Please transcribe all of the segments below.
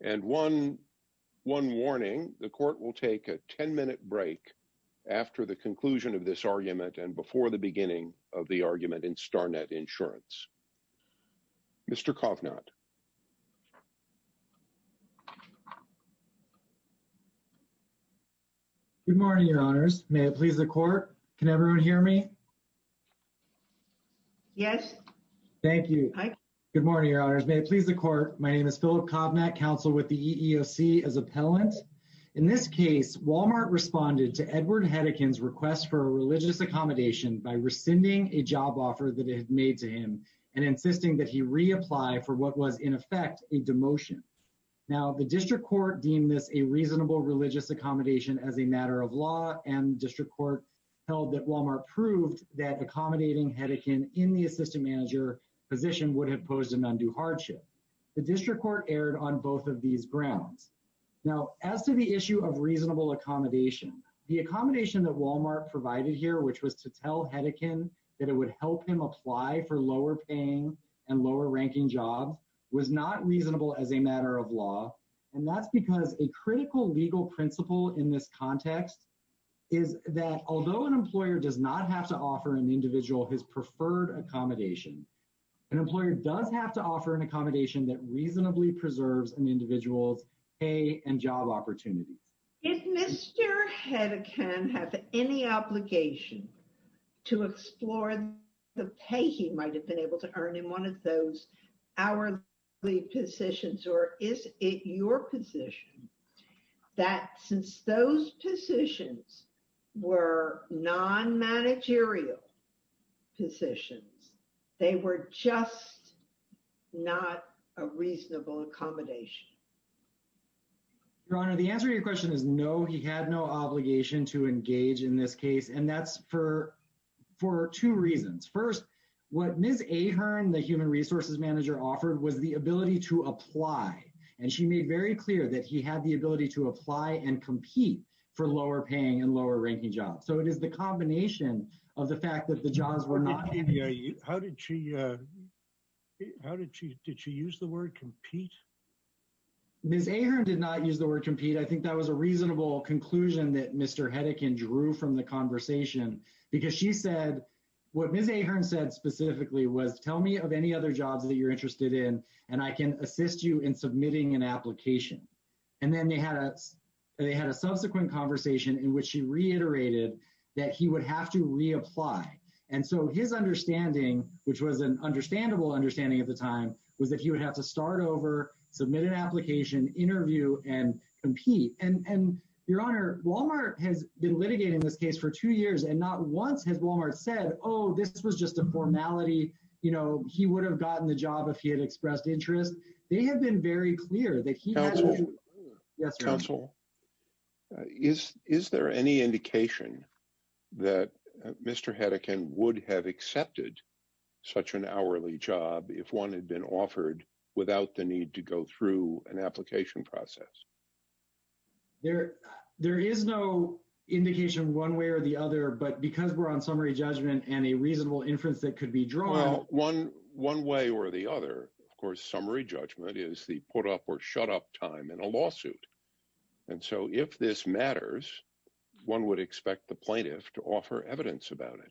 And one warning, the court will take a 10-minute break after the conclusion of this argument and before the beginning of the argument in StarNet Insurance. Mr. Kovnat. Good morning, Your Honors. May it please the court. Can everyone hear me? Yes. Thank you. Hi. Good morning, Your Honors. May it please the court. My name is Philip Kovnat, counsel with the EEOC as appellant. In this case, Walmart responded to Edward Hedekin's request for a religious accommodation by rescinding a job offer that it had made to him and insisting that he reapply for what was in effect a demotion. Now the district court deemed this a reasonable religious accommodation as a matter of law and district court held that Walmart proved that accommodating Hedekin in the assistant manager position would have posed an undue hardship. The district court erred on both of these grounds. Now as to the issue of reasonable accommodation, the accommodation that Walmart provided here, which was to tell Hedekin that it would help him apply for lower-paying and lower-ranking jobs, was not reasonable as a matter of law. And that's because a critical legal principle in this context is that although an employer does not have to offer an individual his preferred accommodation, an employer does have to offer an accommodation that reasonably preserves an individual's pay and job opportunities. Did Mr. Hedekin have any obligation to explore the pay he might have been able to earn in one of those hourly positions, or is it your position that since those positions were non-managerial positions, they were just not a reasonable accommodation? Your Honor, the answer to your question is no. He had no obligation to engage in this case, and that's for two reasons. First, what Ms. Ahern, the human resources manager, offered was the ability to apply. And she made very clear that he had the ability to apply and compete for lower-paying and lower-ranking jobs. So it is the combination of the fact that the jobs were not… How did she… Did she use the word compete? Ms. Ahern did not use the word compete. I think that was a reasonable conclusion that Mr. Hedekin drew from the conversation, because she said, what Ms. Ahern said specifically was, tell me of any other jobs that you're interested in, and I can assist you in submitting an application. And then they had a subsequent conversation in which she reiterated that he would have to reapply. And so his understanding, which was an understandable understanding at the time, was that he would have to start over, submit an application, interview, and compete. And, Your Honor, Walmart has been litigating this case for two years, and not once has Walmart said, oh, this was just a formality, you know, he would have gotten the job if he had expressed interest. They have been very clear that he has to… Yes, Your Honor. Counsel, is there any indication that Mr. Hedekin would have accepted such an hourly job if one had been offered without the need to go through an application process? There is no indication one way or the other, but because we're on summary judgment and a reasonable inference that could be drawn… Well, one way or the other, of course, summary judgment is the put up or shut up time in a lawsuit. And so if this matters, one would expect the plaintiff to offer evidence about it.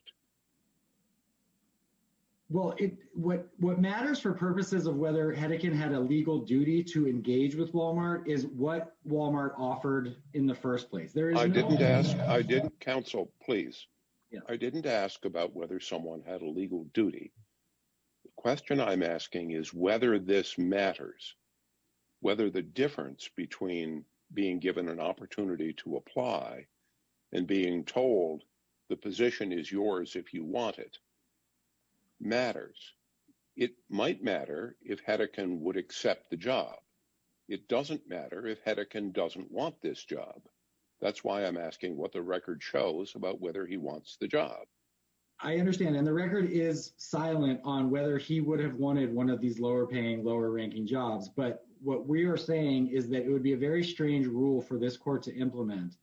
Well, what matters for purposes of whether Hedekin had a legal duty to engage with Walmart is what Walmart offered in the first place. There is no… I didn't ask. I didn't… Counsel, please. I didn't ask about whether someone had a legal duty. The question I'm asking is whether this matters, whether the difference between being given an opportunity to apply and being told the position is yours if you want it matters. It might matter if Hedekin would accept the job. It doesn't matter if Hedekin doesn't want this job. That's why I'm asking what the record shows about whether he wants the job. I understand. And the record is silent on whether he would have wanted one of these lower-paying, lower-ranking jobs. But what we are saying is that it would be a very strange rule for this court to implement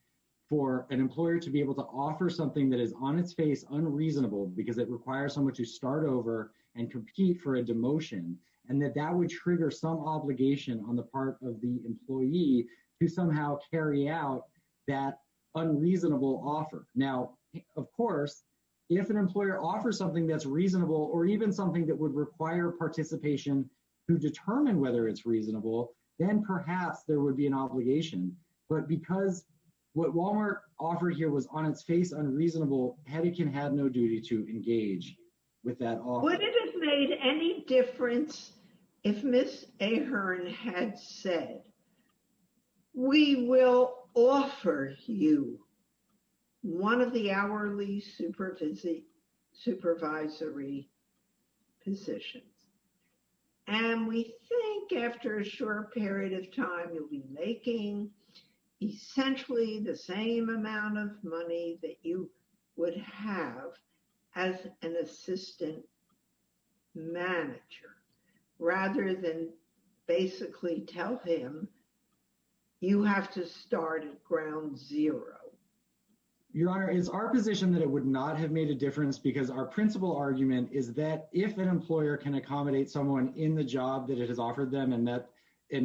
for an employer to be able to offer something that is on its face unreasonable because it requires someone to start over and compete for a demotion, and that that would trigger some obligation on the part of the employee to somehow carry out that unreasonable offer. Now, of course, if an employer offers something that's reasonable or even something that would require participation to determine whether it's reasonable, then perhaps there would be an obligation. But because what Walmart offered here was on its face unreasonable, Hedekin had no duty to engage with that offer. Would it have made any difference if Ms. Ahearn had said, we will offer you one of the hourly supervisory positions? And we think after a short period of time, you'll be making essentially the same amount of money that you would have as an assistant manager, rather than basically tell him, you have to start at ground zero. Your Honor, it's our position that it would not have made a difference because our principal argument is that if an employer can accommodate someone in the job that it has offered them and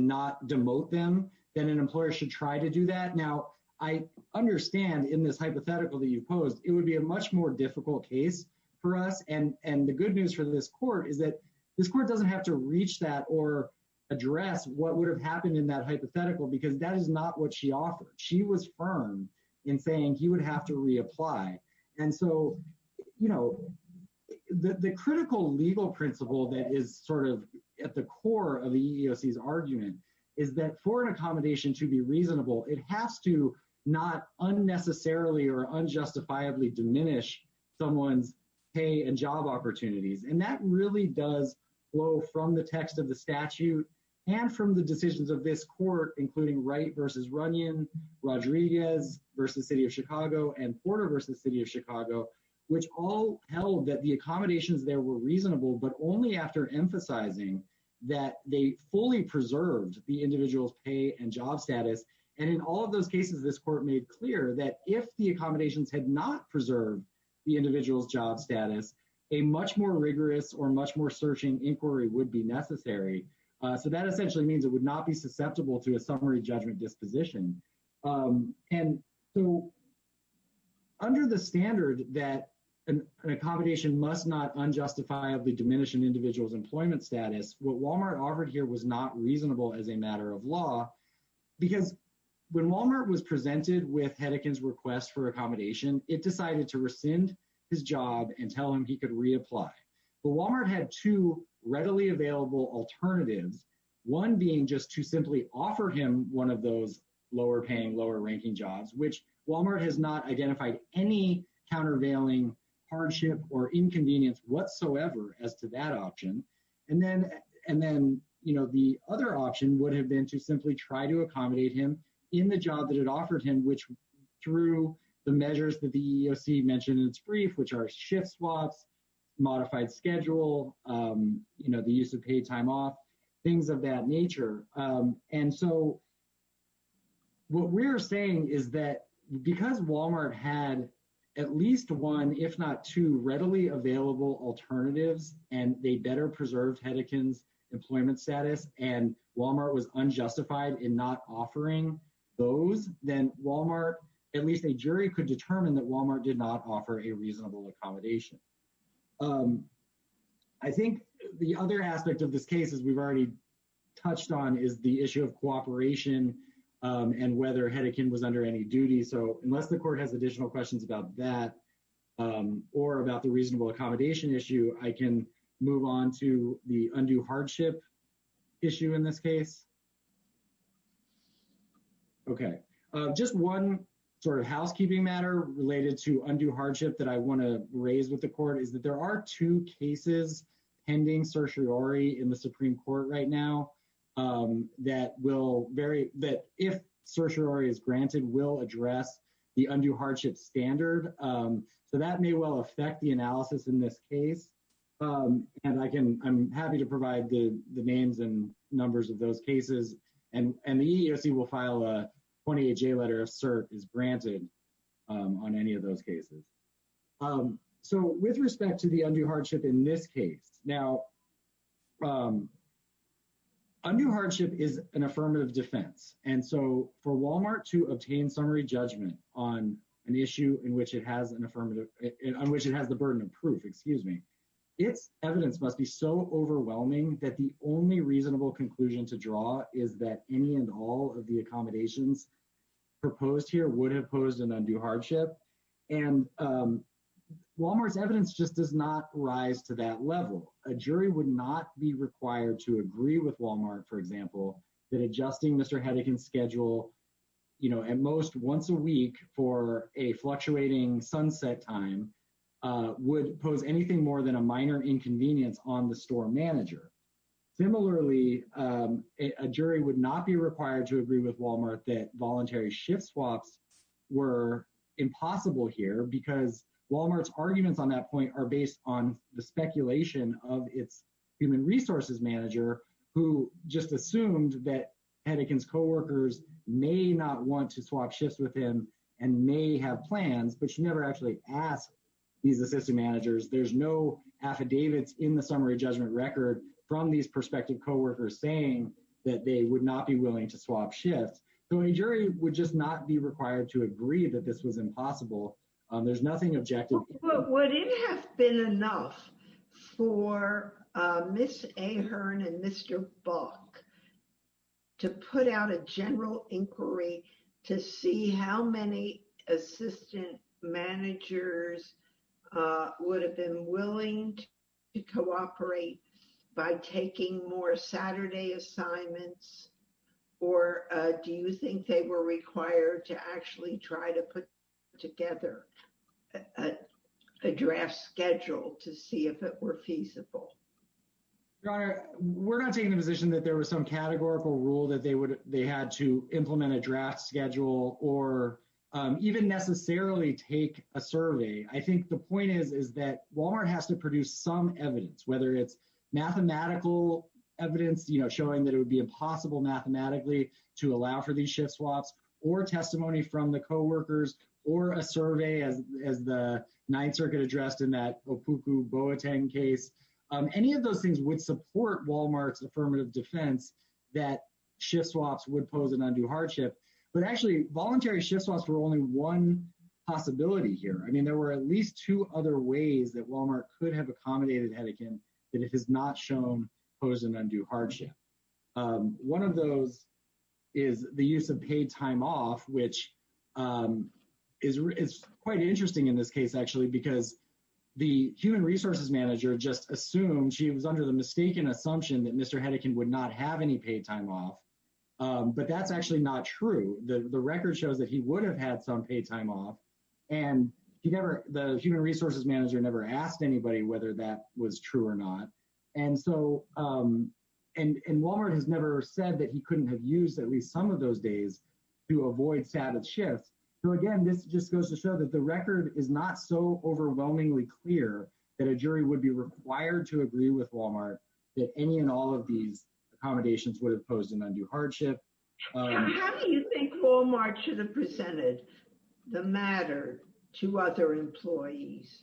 not demote them, then an employer should try to do that. Now, I understand in this hypothetical that you posed, it would be a much more difficult case for us. And the good news for this court is that this court doesn't have to reach that or address what would have happened in that hypothetical because that is not what she offered. She was firm in saying he would have to reapply. And so the critical legal principle that is sort of at the core of the EEOC's argument is that for an accommodation to be reasonable, it has to not unnecessarily or unjustifiably diminish someone's pay and job opportunities. And that really does flow from the text of the statute and from the decisions of this court, including Wright v. Runyon, Rodriguez v. City of Chicago, and Porter v. City of Chicago, which all held that the accommodations there were reasonable, but only after emphasizing that they fully preserved the individual's pay and job status. And in all of those cases, this court made clear that if the accommodations had not preserved the individual's job status, a much more rigorous or much more searching inquiry would be necessary. So that essentially means it would not be susceptible to a summary judgment disposition. And so under the standard that an accommodation must not unjustifiably diminish an individual's pay and job status, what Walmart offered here was not reasonable as a matter of law, because when Walmart was presented with Hedekin's request for accommodation, it decided to rescind his job and tell him he could reapply. But Walmart had two readily available alternatives, one being just to simply offer him one of those lower paying, lower ranking jobs, which Walmart has not identified any countervailing hardship or inconvenience whatsoever as to that option. And then the other option would have been to simply try to accommodate him in the job that it offered him, which through the measures that the EEOC mentioned in its brief, which are shift swaps, modified schedule, the use of paid time off, things of that nature. And so what we're saying is that because Walmart had at least one, if not two, readily available alternatives and they better preserved Hedekin's employment status and Walmart was unjustified in not offering those, then Walmart, at least a jury could determine that Walmart did not offer a reasonable accommodation. I think the other aspect of this case, as we've already touched on, is the issue of cooperation and whether Hedekin was under any duty. So unless the court has additional questions about that or about the reasonable accommodation, I can move on to the undue hardship issue in this case. Okay, just one sort of housekeeping matter related to undue hardship that I want to raise with the court is that there are two cases pending certiorari in the Supreme Court right now that will vary, that if certiorari is granted will address the undue hardship standard. So that may well affect the analysis in this case. And I'm happy to provide the names and numbers of those cases. And the EEOC will file a 28-J letter if cert is granted on any of those cases. So with respect to the undue hardship in this case, now, undue hardship is an affirmative defense. And so for Walmart to obtain summary judgment on an issue in which it has the burden of proof, excuse me, its evidence must be so overwhelming that the only reasonable conclusion to draw is that any and all of the accommodations proposed here would have posed an undue hardship. And Walmart's evidence just does not rise to that level. A jury would not be required to agree with Walmart, for example, that adjusting Mr. Hedekin's schedule at most once a week for a fluctuating sunset time would pose anything more than a minor inconvenience on the store manager. Similarly, a jury would not be required to agree with Walmart that voluntary shift swaps were impossible here because Walmart's arguments on that point are based on the speculation of its human resources manager who just assumed that Hedekin's co-workers may not want to swap shifts with him and may have plans, but she never actually asked these assistant managers. There's no affidavits in the summary judgment record from these prospective co-workers saying that they would not be willing to swap shifts. So a jury would just not be required to agree that this was impossible. There's nothing objective. Would it have been enough for Ms. Ahern and Mr. Buck to put out a general inquiry to see how many assistant managers would have been willing to cooperate by taking more Saturday assignments, or do you think they were required to actually try to put together a draft schedule to see if it were feasible? HEDEKIN. We're not taking the position that there was some categorical rule that they had to implement a draft schedule or even necessarily take a survey. I think the point is that Walmart has to produce some evidence, whether it's mathematical evidence showing that it would be impossible mathematically to allow for these shift swaps, or testimony from the co-workers, or a survey, as the Ninth Circuit addressed in that Opuku Boateng case, any of those things would support Walmart's affirmative defense that shift swaps would pose an undue hardship. But actually, voluntary shift swaps were only one possibility here. I mean, there were at least two other ways that Walmart could have accommodated Hedekin that it has not shown posed an undue hardship. One of those is the use of paid time off, which is quite interesting in this case, actually, because the human resources manager just assumed she was under the mistaken assumption that Mr. Hedekin would not have any paid time off, but that's actually not true. The record shows that he would have had some paid time off, and the human resources manager never asked anybody whether that was true or not. And so, and Walmart has never said that he couldn't have used at least some of those days to avoid status shifts. So again, this just goes to show that the record is not so overwhelmingly clear that a jury would be required to agree with Walmart that any and all of these accommodations would have posed an undue hardship. And how do you think Walmart should have presented the matter to other employees?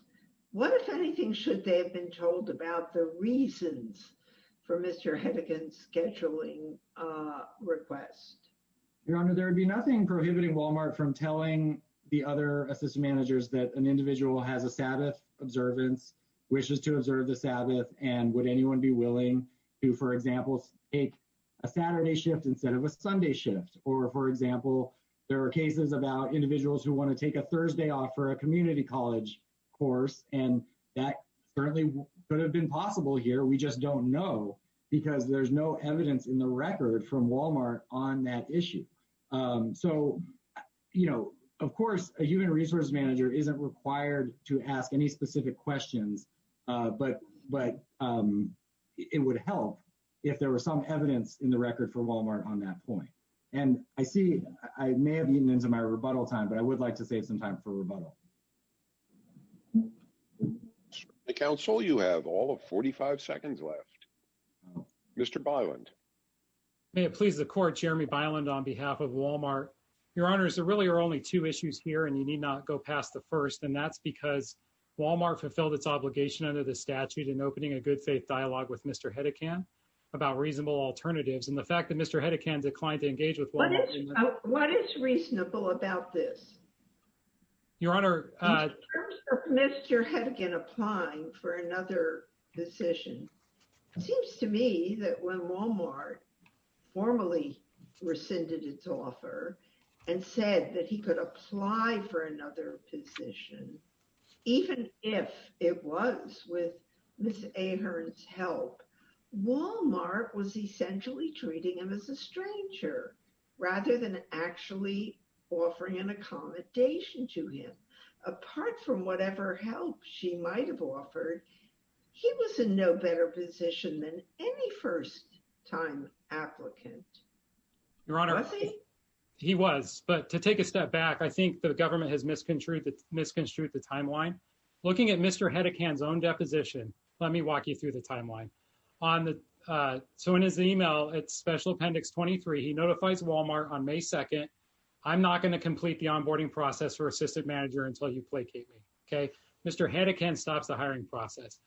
What, if anything, should they have been told about the reasons for Mr. Hedekin's scheduling request? Your Honor, there would be nothing prohibiting Walmart from telling the other assistant managers that an individual has a Sabbath observance, wishes to observe the Sabbath, and would anyone be willing to, for example, take a Saturday shift instead of a Sunday shift? Or, for example, there are cases about individuals who want to take a Thursday off for a community college course, and that certainly could have been possible here. We just don't know because there's no evidence in the record from Walmart on that issue. So, you know, of course, a human resources manager isn't required to ask any specific questions, but it would help if there were some evidence in the record for Walmart on that point. And I see, I may have eaten into my rebuttal time, but I would like to save some time for rebuttal. The Council, you have all of 45 seconds left. Mr. Byland. May it please the Court, Jeremy Byland on behalf of Walmart. Your Honor, there really are only two issues here, and you need not go past the first, and that's because Walmart fulfilled its obligation under the statute in opening a good faith dialogue with Mr. Hedekin about reasonable alternatives, and the fact that Mr. Hedekin declined to engage with Walmart. What is reasonable about this? Your Honor. Mr. Hedekin applying for another position, it seems to me that when Walmart formally rescinded its offer and said that he could apply for another position, even if it was with Ms. Ahern's help, Walmart was essentially treating him as a stranger rather than actually offering an accommodation to him. Apart from whatever help she might have offered, he was in no better position than any first time applicant. Your Honor, he was, but to take a step back, I think the government has misconstrued the timeline. Looking at Mr. Hedekin's own deposition, let me walk you through the timeline. So in his email, it's Special Appendix 23, he notifies Walmart on May 2nd, I'm not going to complete the onboarding process for Assistant Manager until you placate me, okay? Mr. Hedekin stops the hiring process.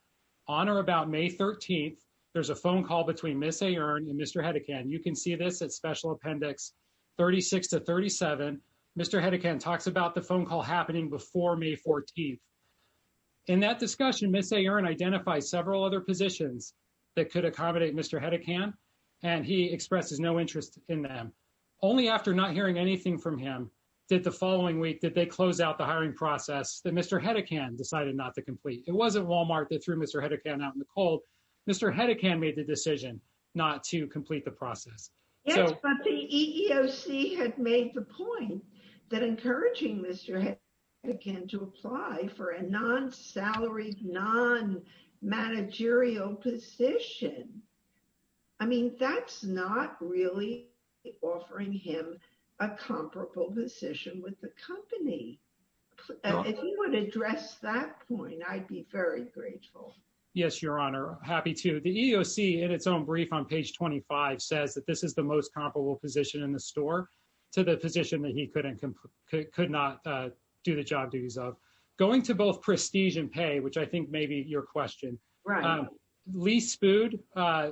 On or about May 13th, there's a phone call between Ms. Ahern and Mr. Hedekin. You can see this at Special Appendix 36 to 37. Mr. Hedekin talks about the phone call happening before May 14th. In that discussion, Ms. Ahern identifies several other positions that could accommodate Mr. Hedekin, and he expresses no interest in them. Only after not hearing anything from him, did the following week that they closed out the hiring process that Mr. Hedekin decided not to complete. It wasn't Walmart that threw Mr. Hedekin out in the cold. Mr. Hedekin made the decision not to complete the process. Yes, but the EEOC had made the point that encouraging Mr. Hedekin to apply for a non-salary, non-managerial position. I mean, that's not really offering him a comparable position with the company. If you want to address that point, I'd be very grateful. Yes, Your Honor. Happy to. The EEOC, in its own brief on page 25, says that this is the most comparable position in the store to the position that he could not do the job duties of. Going to both prestige and pay, which I think may be your question, Lee Spood,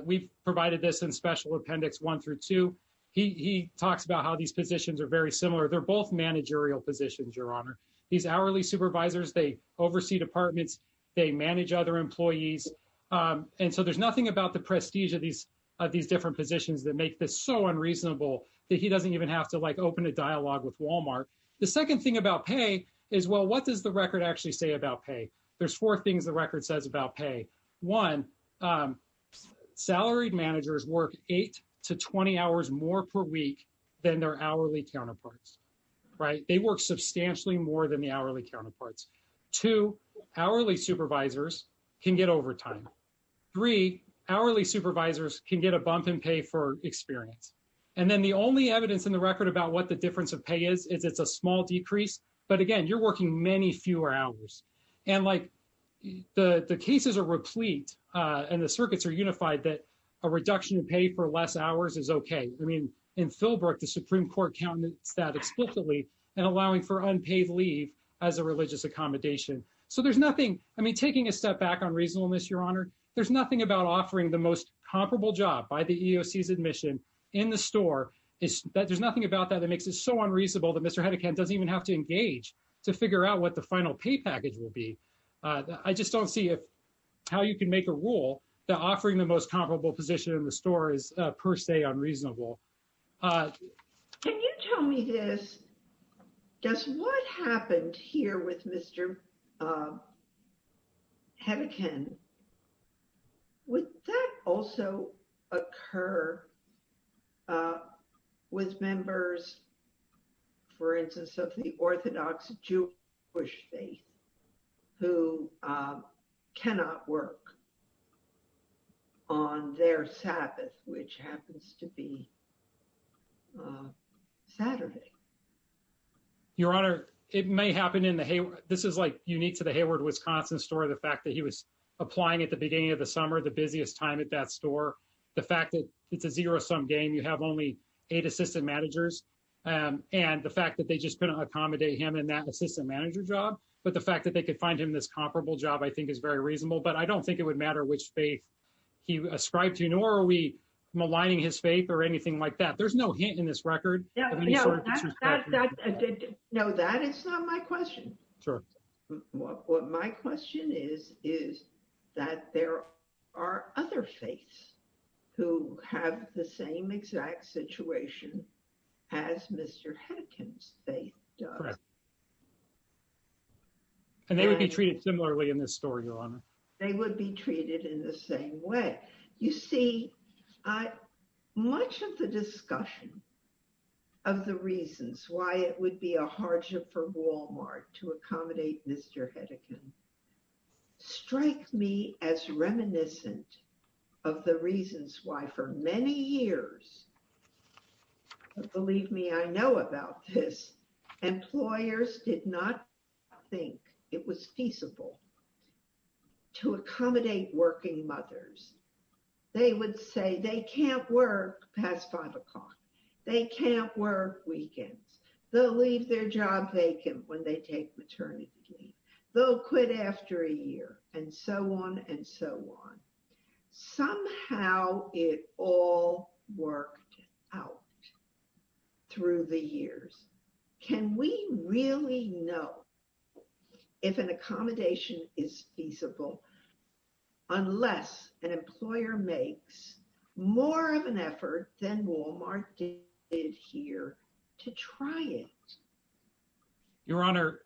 we've provided this in Special Appendix 1 through 2. He talks about how these positions are very similar. They're both managerial positions, Your Honor. These hourly supervisors, they oversee departments. They manage other employees. And so there's nothing about the prestige of these different positions that make this so unreasonable that he doesn't even have to open a dialogue with Walmart. The second thing about pay is, well, what does the record actually say about pay? There's four things the record says about pay. One, salaried managers work 8 to 20 hours more per week than their hourly counterparts. Right? They work substantially more than the hourly counterparts. Two, hourly supervisors can get overtime. Three, hourly supervisors can get a bump in pay for experience. And then the only evidence in the record about what the difference of pay is, is it's a small decrease. But again, you're working many fewer hours. And like, the cases are replete and the circuits are unified that a reduction in pay for less hours is okay. I mean, in Philbrook, the Supreme Court counted that explicitly in allowing for unpaid leave as a religious accommodation. So there's nothing, I mean, taking a step back on reasonableness, Your Honor, there's nothing about offering the most comparable job by the EEOC's admission in the store, there's nothing about that that makes it so unreasonable that Mr. Hedekin's final pay package will be. I just don't see if, how you can make a rule that offering the most comparable position in the store is per se unreasonable. Can you tell me this? Just what happened here with Mr. Hedekin? Would that also occur with members, for instance, of the Orthodox Jewish faith who cannot work on their Sabbath, which happens to be Saturday? Your Honor, it may happen in the Hayward. This is like unique to the Hayward, Wisconsin store. The fact that he was applying at the beginning of the summer, the busiest time at that store. The fact that it's a zero-sum game, you have only eight assistant managers. And the fact that they just couldn't accommodate him in that assistant manager job, but the fact that they could find him this comparable job, I think is very reasonable. But I don't think it would matter which faith he ascribed to, nor are we maligning his faith or anything like that. There's no hint in this record. No, that is not my question. What my question is, is that there are other faiths who have the same exact situation as Mr. Hedekin's faith does. And they would be treated similarly in this story, Your Honor. They would be treated in the same way. You see, much of the discussion of the reasons why it would be a hardship for Walmart to accommodate Mr. Hedekin strike me as reminiscent of the reasons why for many years, believe I think it was feasible to accommodate working mothers. They would say they can't work past five o'clock. They can't work weekends. They'll leave their job vacant when they take maternity leave. They'll quit after a year and so on and so on. Somehow it all worked out through the years. Can we really know if an accommodation is feasible unless an employer makes more of an effort than Walmart did here to try it? Your Honor,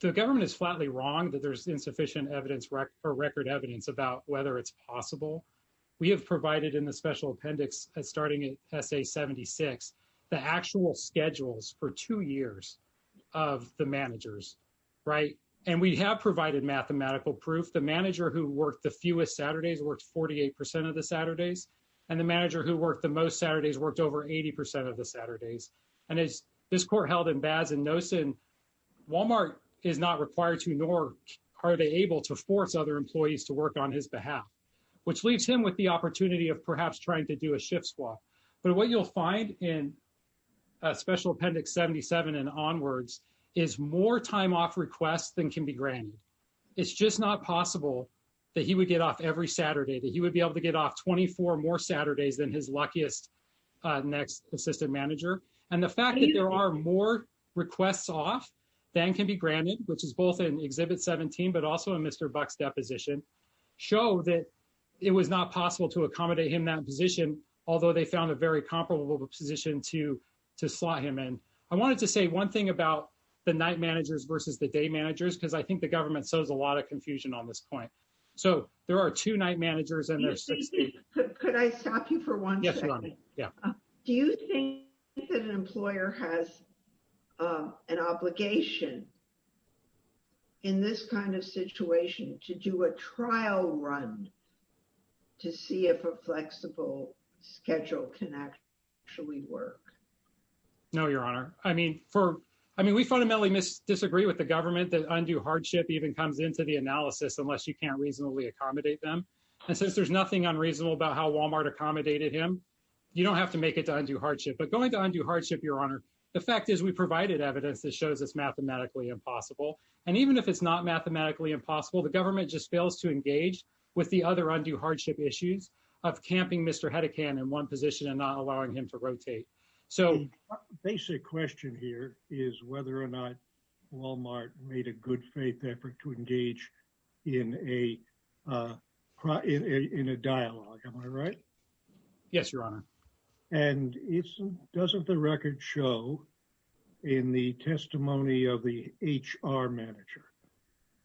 the government is flatly wrong that there's insufficient evidence or record evidence about whether it's possible. We have provided in the special appendix, starting at essay 76, the actual schedules for two years of the managers. Right? And we have provided mathematical proof. The manager who worked the fewest Saturdays worked 48% of the Saturdays. And the manager who worked the most Saturdays worked over 80% of the Saturdays. And as this court held in Baz and Nosen, Walmart is not required to nor are they able to force other employees to work on his behalf, which leaves him with the opportunity of perhaps trying to do a shift swap. But what you'll find in special appendix 77 and onwards is more time off requests than can be granted. It's just not possible that he would get off every Saturday, that he would be able to get off 24 more Saturdays than his luckiest next assistant manager. And the fact that there are more requests off than can be granted, which is both in show that it was not possible to accommodate him in that position, although they found a very comparable position to slot him in. I wanted to say one thing about the night managers versus the day managers, because I think the government sows a lot of confusion on this point. So there are two night managers. And there are six day managers. Could I stop you for one second? Yes, Ronnie. Yeah. Do you think that an employer has an obligation in this kind of situation to do a trial run to see if a flexible schedule can actually work? No, Your Honor. I mean, we fundamentally disagree with the government that undue hardship even comes into the analysis unless you can't reasonably accommodate them. And since there's nothing unreasonable about how Walmart accommodated him, you don't have to make it to undue hardship. But going to undue hardship, Your Honor, the fact is we provided evidence that shows it's mathematically impossible. And even if it's not mathematically impossible, the government just fails to engage with the other undue hardship issues of camping Mr. Hedekind in one position and not allowing him to rotate. So basic question here is whether or not Walmart made a good faith effort to engage in a dialogue. Am I right? Yes, Your Honor. And doesn't the record show in the testimony of the HR manager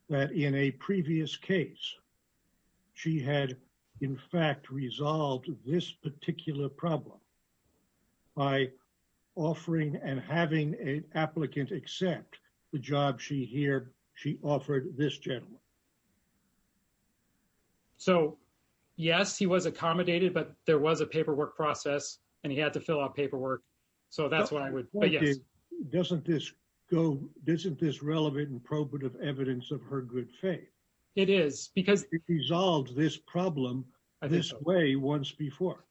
that in a previous case, she had, in fact, resolved this particular problem by offering and having an applicant accept the job she offered this gentleman? So, yes, he was accommodated, but there was a paperwork process and he had to fill out paperwork. So that's what I would point out. Doesn't this go, isn't this relevant and probative evidence of her good faith? It is because it resolves this problem this way once before.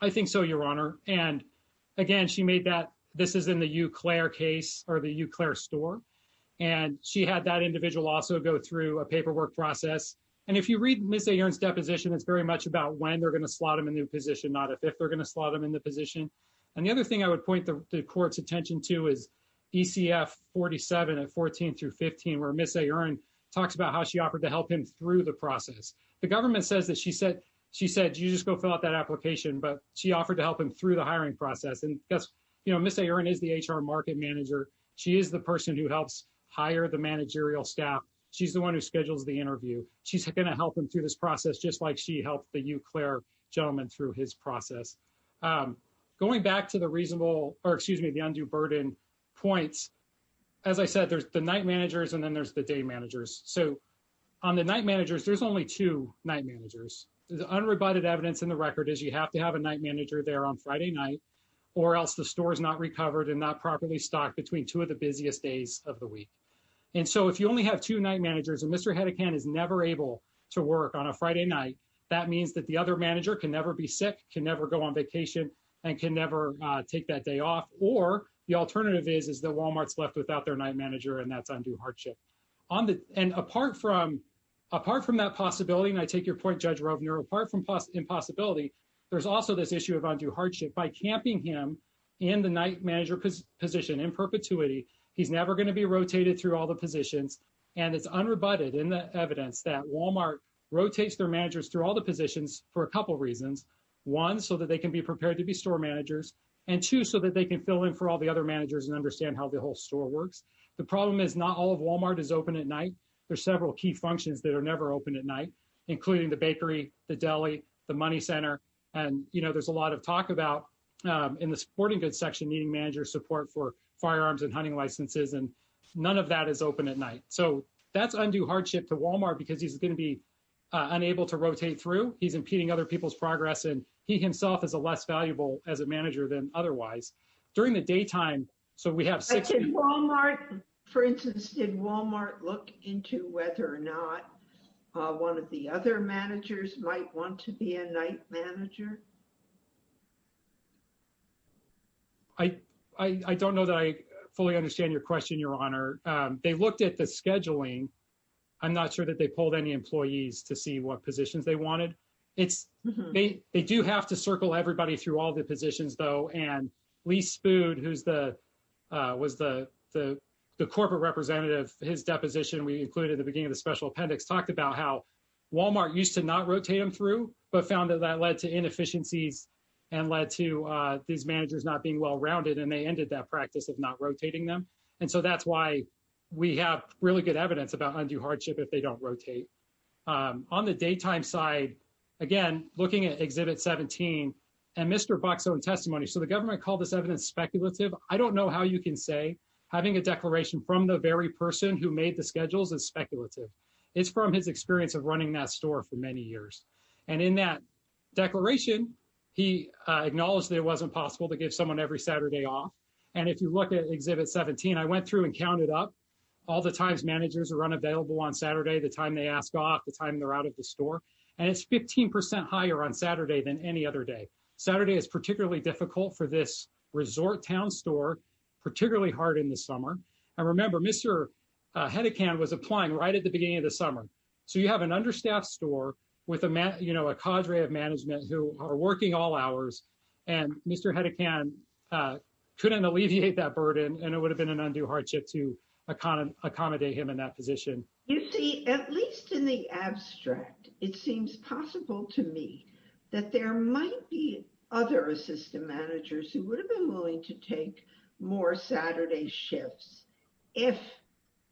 I think so, Your Honor. And again, she made that this is in the Euclid case or the Euclid store. And she had that individual also go through a paperwork process. And if you read Ms. Ayerin's deposition, it's very much about when they're going to slot him in a new position, not if they're going to slot him in the position. And the other thing I would point the court's attention to is ECF 47 and 14 through 15, where Ms. Ayerin talks about how she offered to help him through the process. The government says that she said, she said, you just go fill out that application. But she offered to help him through the hiring process. And Ms. Ayerin is the HR market manager. She is the person who helps hire the managerial staff. She's the one who schedules the interview. She's going to help him through this process, just like she helped the Euclid gentleman through his process. Going back to the reasonable or excuse me, the undue burden points. As I said, there's the night managers and then there's the day managers. So on the night managers, there's only two night managers. Unrebutted evidence in the record is you have to have a night manager there on Friday night or else the store is not recovered and not properly stocked between two of the busiest days of the week. And so if you only have two night managers and Mr. Haddikan is never able to work on a Friday night, that means that the other manager can never be sick, can never go on vacation and can never take that day off. Or the alternative is that Walmart's left without their night manager and that's undue hardship. And apart from that possibility, and I take your point, Judge Rovner, apart from impossibility, there's also this issue of undue hardship. By camping him in the night manager position in perpetuity, he's never going to be rotated through all the positions. And it's unrebutted in the evidence that Walmart rotates their managers through all the positions for a couple of reasons. One, so that they can be prepared to be store managers and two, so that they can fill in for all the other managers and understand how the whole store works. The problem is not all of Walmart is open at night. There's several key functions that are never open at night, including the bakery, the deli, the money center. And, you know, there's a lot of talk about in the sporting goods section, needing manager support for firearms and hunting licenses. And none of that is open at night. So that's undue hardship to Walmart because he's going to be unable to rotate through. He's impeding other people's progress. And he himself is a less valuable as a manager than otherwise. During the daytime, so we have six... At Walmart, for instance, did Walmart look into whether or not one of the other managers might want to be a night manager? I don't know that I fully understand your question, Your Honor. They looked at the scheduling. I'm not sure that they pulled any employees to see what positions they wanted. They do have to circle everybody through all the positions, though. And Lee Spood, who was the corporate representative, his deposition we included at the beginning of the special appendix, talked about how Walmart used to not rotate them through, but found that that led to inefficiencies and led to these managers not being well-rounded. And they ended that practice of not rotating them. And so that's why we have really good evidence about undue hardship if they don't rotate. On the daytime side, again, looking at Exhibit 17 and Mr. Buck's own testimony. So the government called this evidence speculative. I don't know how you can say having a declaration from the very person who made the schedules is speculative. It's from his experience of running that store for many years. And in that declaration, he acknowledged that it wasn't possible to give someone every Saturday off. And if you look at Exhibit 17, I went through and counted up all the times managers are unavailable on Saturday, the time they ask off, the time they're out of the store. And it's 15% higher on Saturday than any other day. Saturday is particularly difficult for this resort town store, particularly hard in the summer. And remember, Mr. Hedekand was applying right at the beginning of the summer. So you have an understaffed store with a cadre of management who are working all hours. And Mr. Hedekand couldn't alleviate that burden. And it would have been an undue hardship to accommodate him in that position. You see, at least in the abstract, it seems possible to me that there might be other assistant managers who would have been willing to take more Saturday shifts if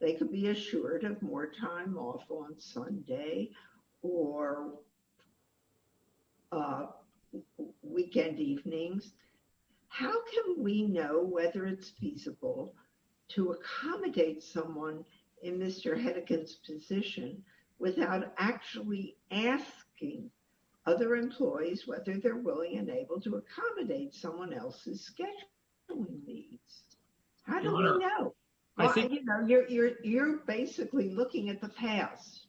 they could be assured of more time off on Sunday or weekend evenings. How can we know whether it's feasible to accommodate someone in Mr. Hedekand's position without actually asking other employees whether they're willing and able to accommodate someone else's scheduling needs? How do we know? You're basically looking at the past.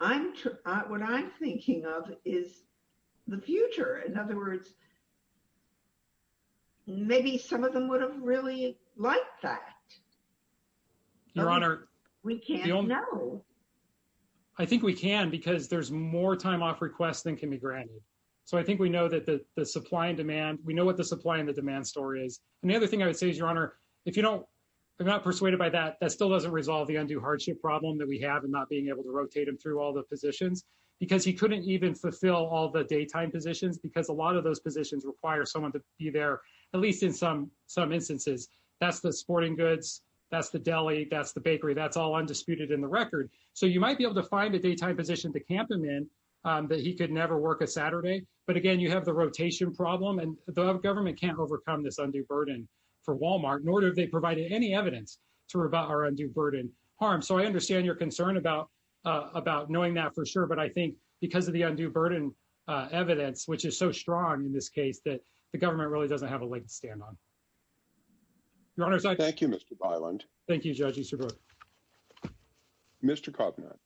What I'm thinking of is the future. In other words, maybe some of them would have really liked that. Your Honor. We can't know. I think we can because there's more time off requests than can be granted. So I think we know that the supply and demand, we know what the supply and the demand story is. And the other thing I would say is, Your Honor, if you don't, I'm not persuaded by that, that still doesn't resolve the undue hardship problem that we have in not being able to rotate him through all the positions. Because he couldn't even fulfill all the daytime positions because a lot of those positions require someone to be there, at least in some instances. That's the sporting goods. That's the deli. That's the bakery. So you might be able to find a daytime position to camp him in that he could never work a Saturday. But again, you have the rotation problem. And the government can't overcome this undue burden for Walmart, nor do they provide any evidence to rebut our undue burden harm. So I understand your concern about knowing that for sure. But I think because of the undue burden evidence, which is so strong in this case, that the government really doesn't have a leg to stand on. Your Honor. Thank you, Mr. Byland. Thank you, Judge Easterbrook. Mr. Kovner.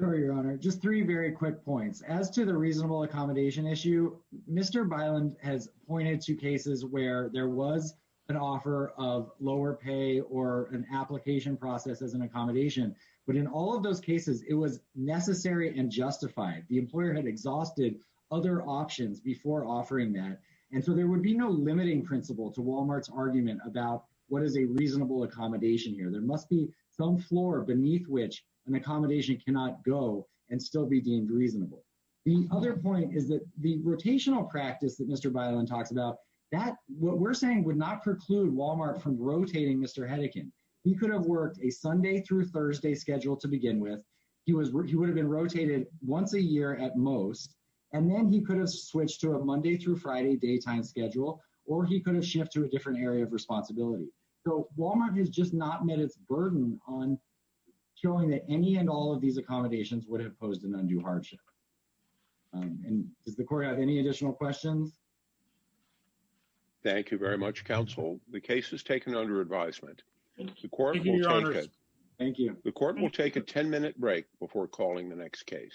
Sorry, Your Honor. Just three very quick points. As to the reasonable accommodation issue, Mr. Byland has pointed to cases where there was an offer of lower pay or an application process as an accommodation. But in all of those cases, it was necessary and justified. The employer had exhausted other options before offering that. And so there would be no limiting principle to Walmart's argument about what is a reasonable accommodation here. There must be some floor beneath which an accommodation cannot go and still be deemed reasonable. The other point is that the rotational practice that Mr. Byland talks about, that what we're saying would not preclude Walmart from rotating Mr. Hedikin. He could have worked a Sunday through Thursday schedule to begin with. He would have been rotated once a year at most. And then he could have switched to a Monday through Friday daytime schedule, or he could have shifted to a different area of responsibility. So Walmart has just not met its burden on showing that any and all of these accommodations would have posed an undue hardship. And does the court have any additional questions? Thank you very much, counsel. The case is taken under advisement. Thank you. The court will take a 10-minute break before calling the next case.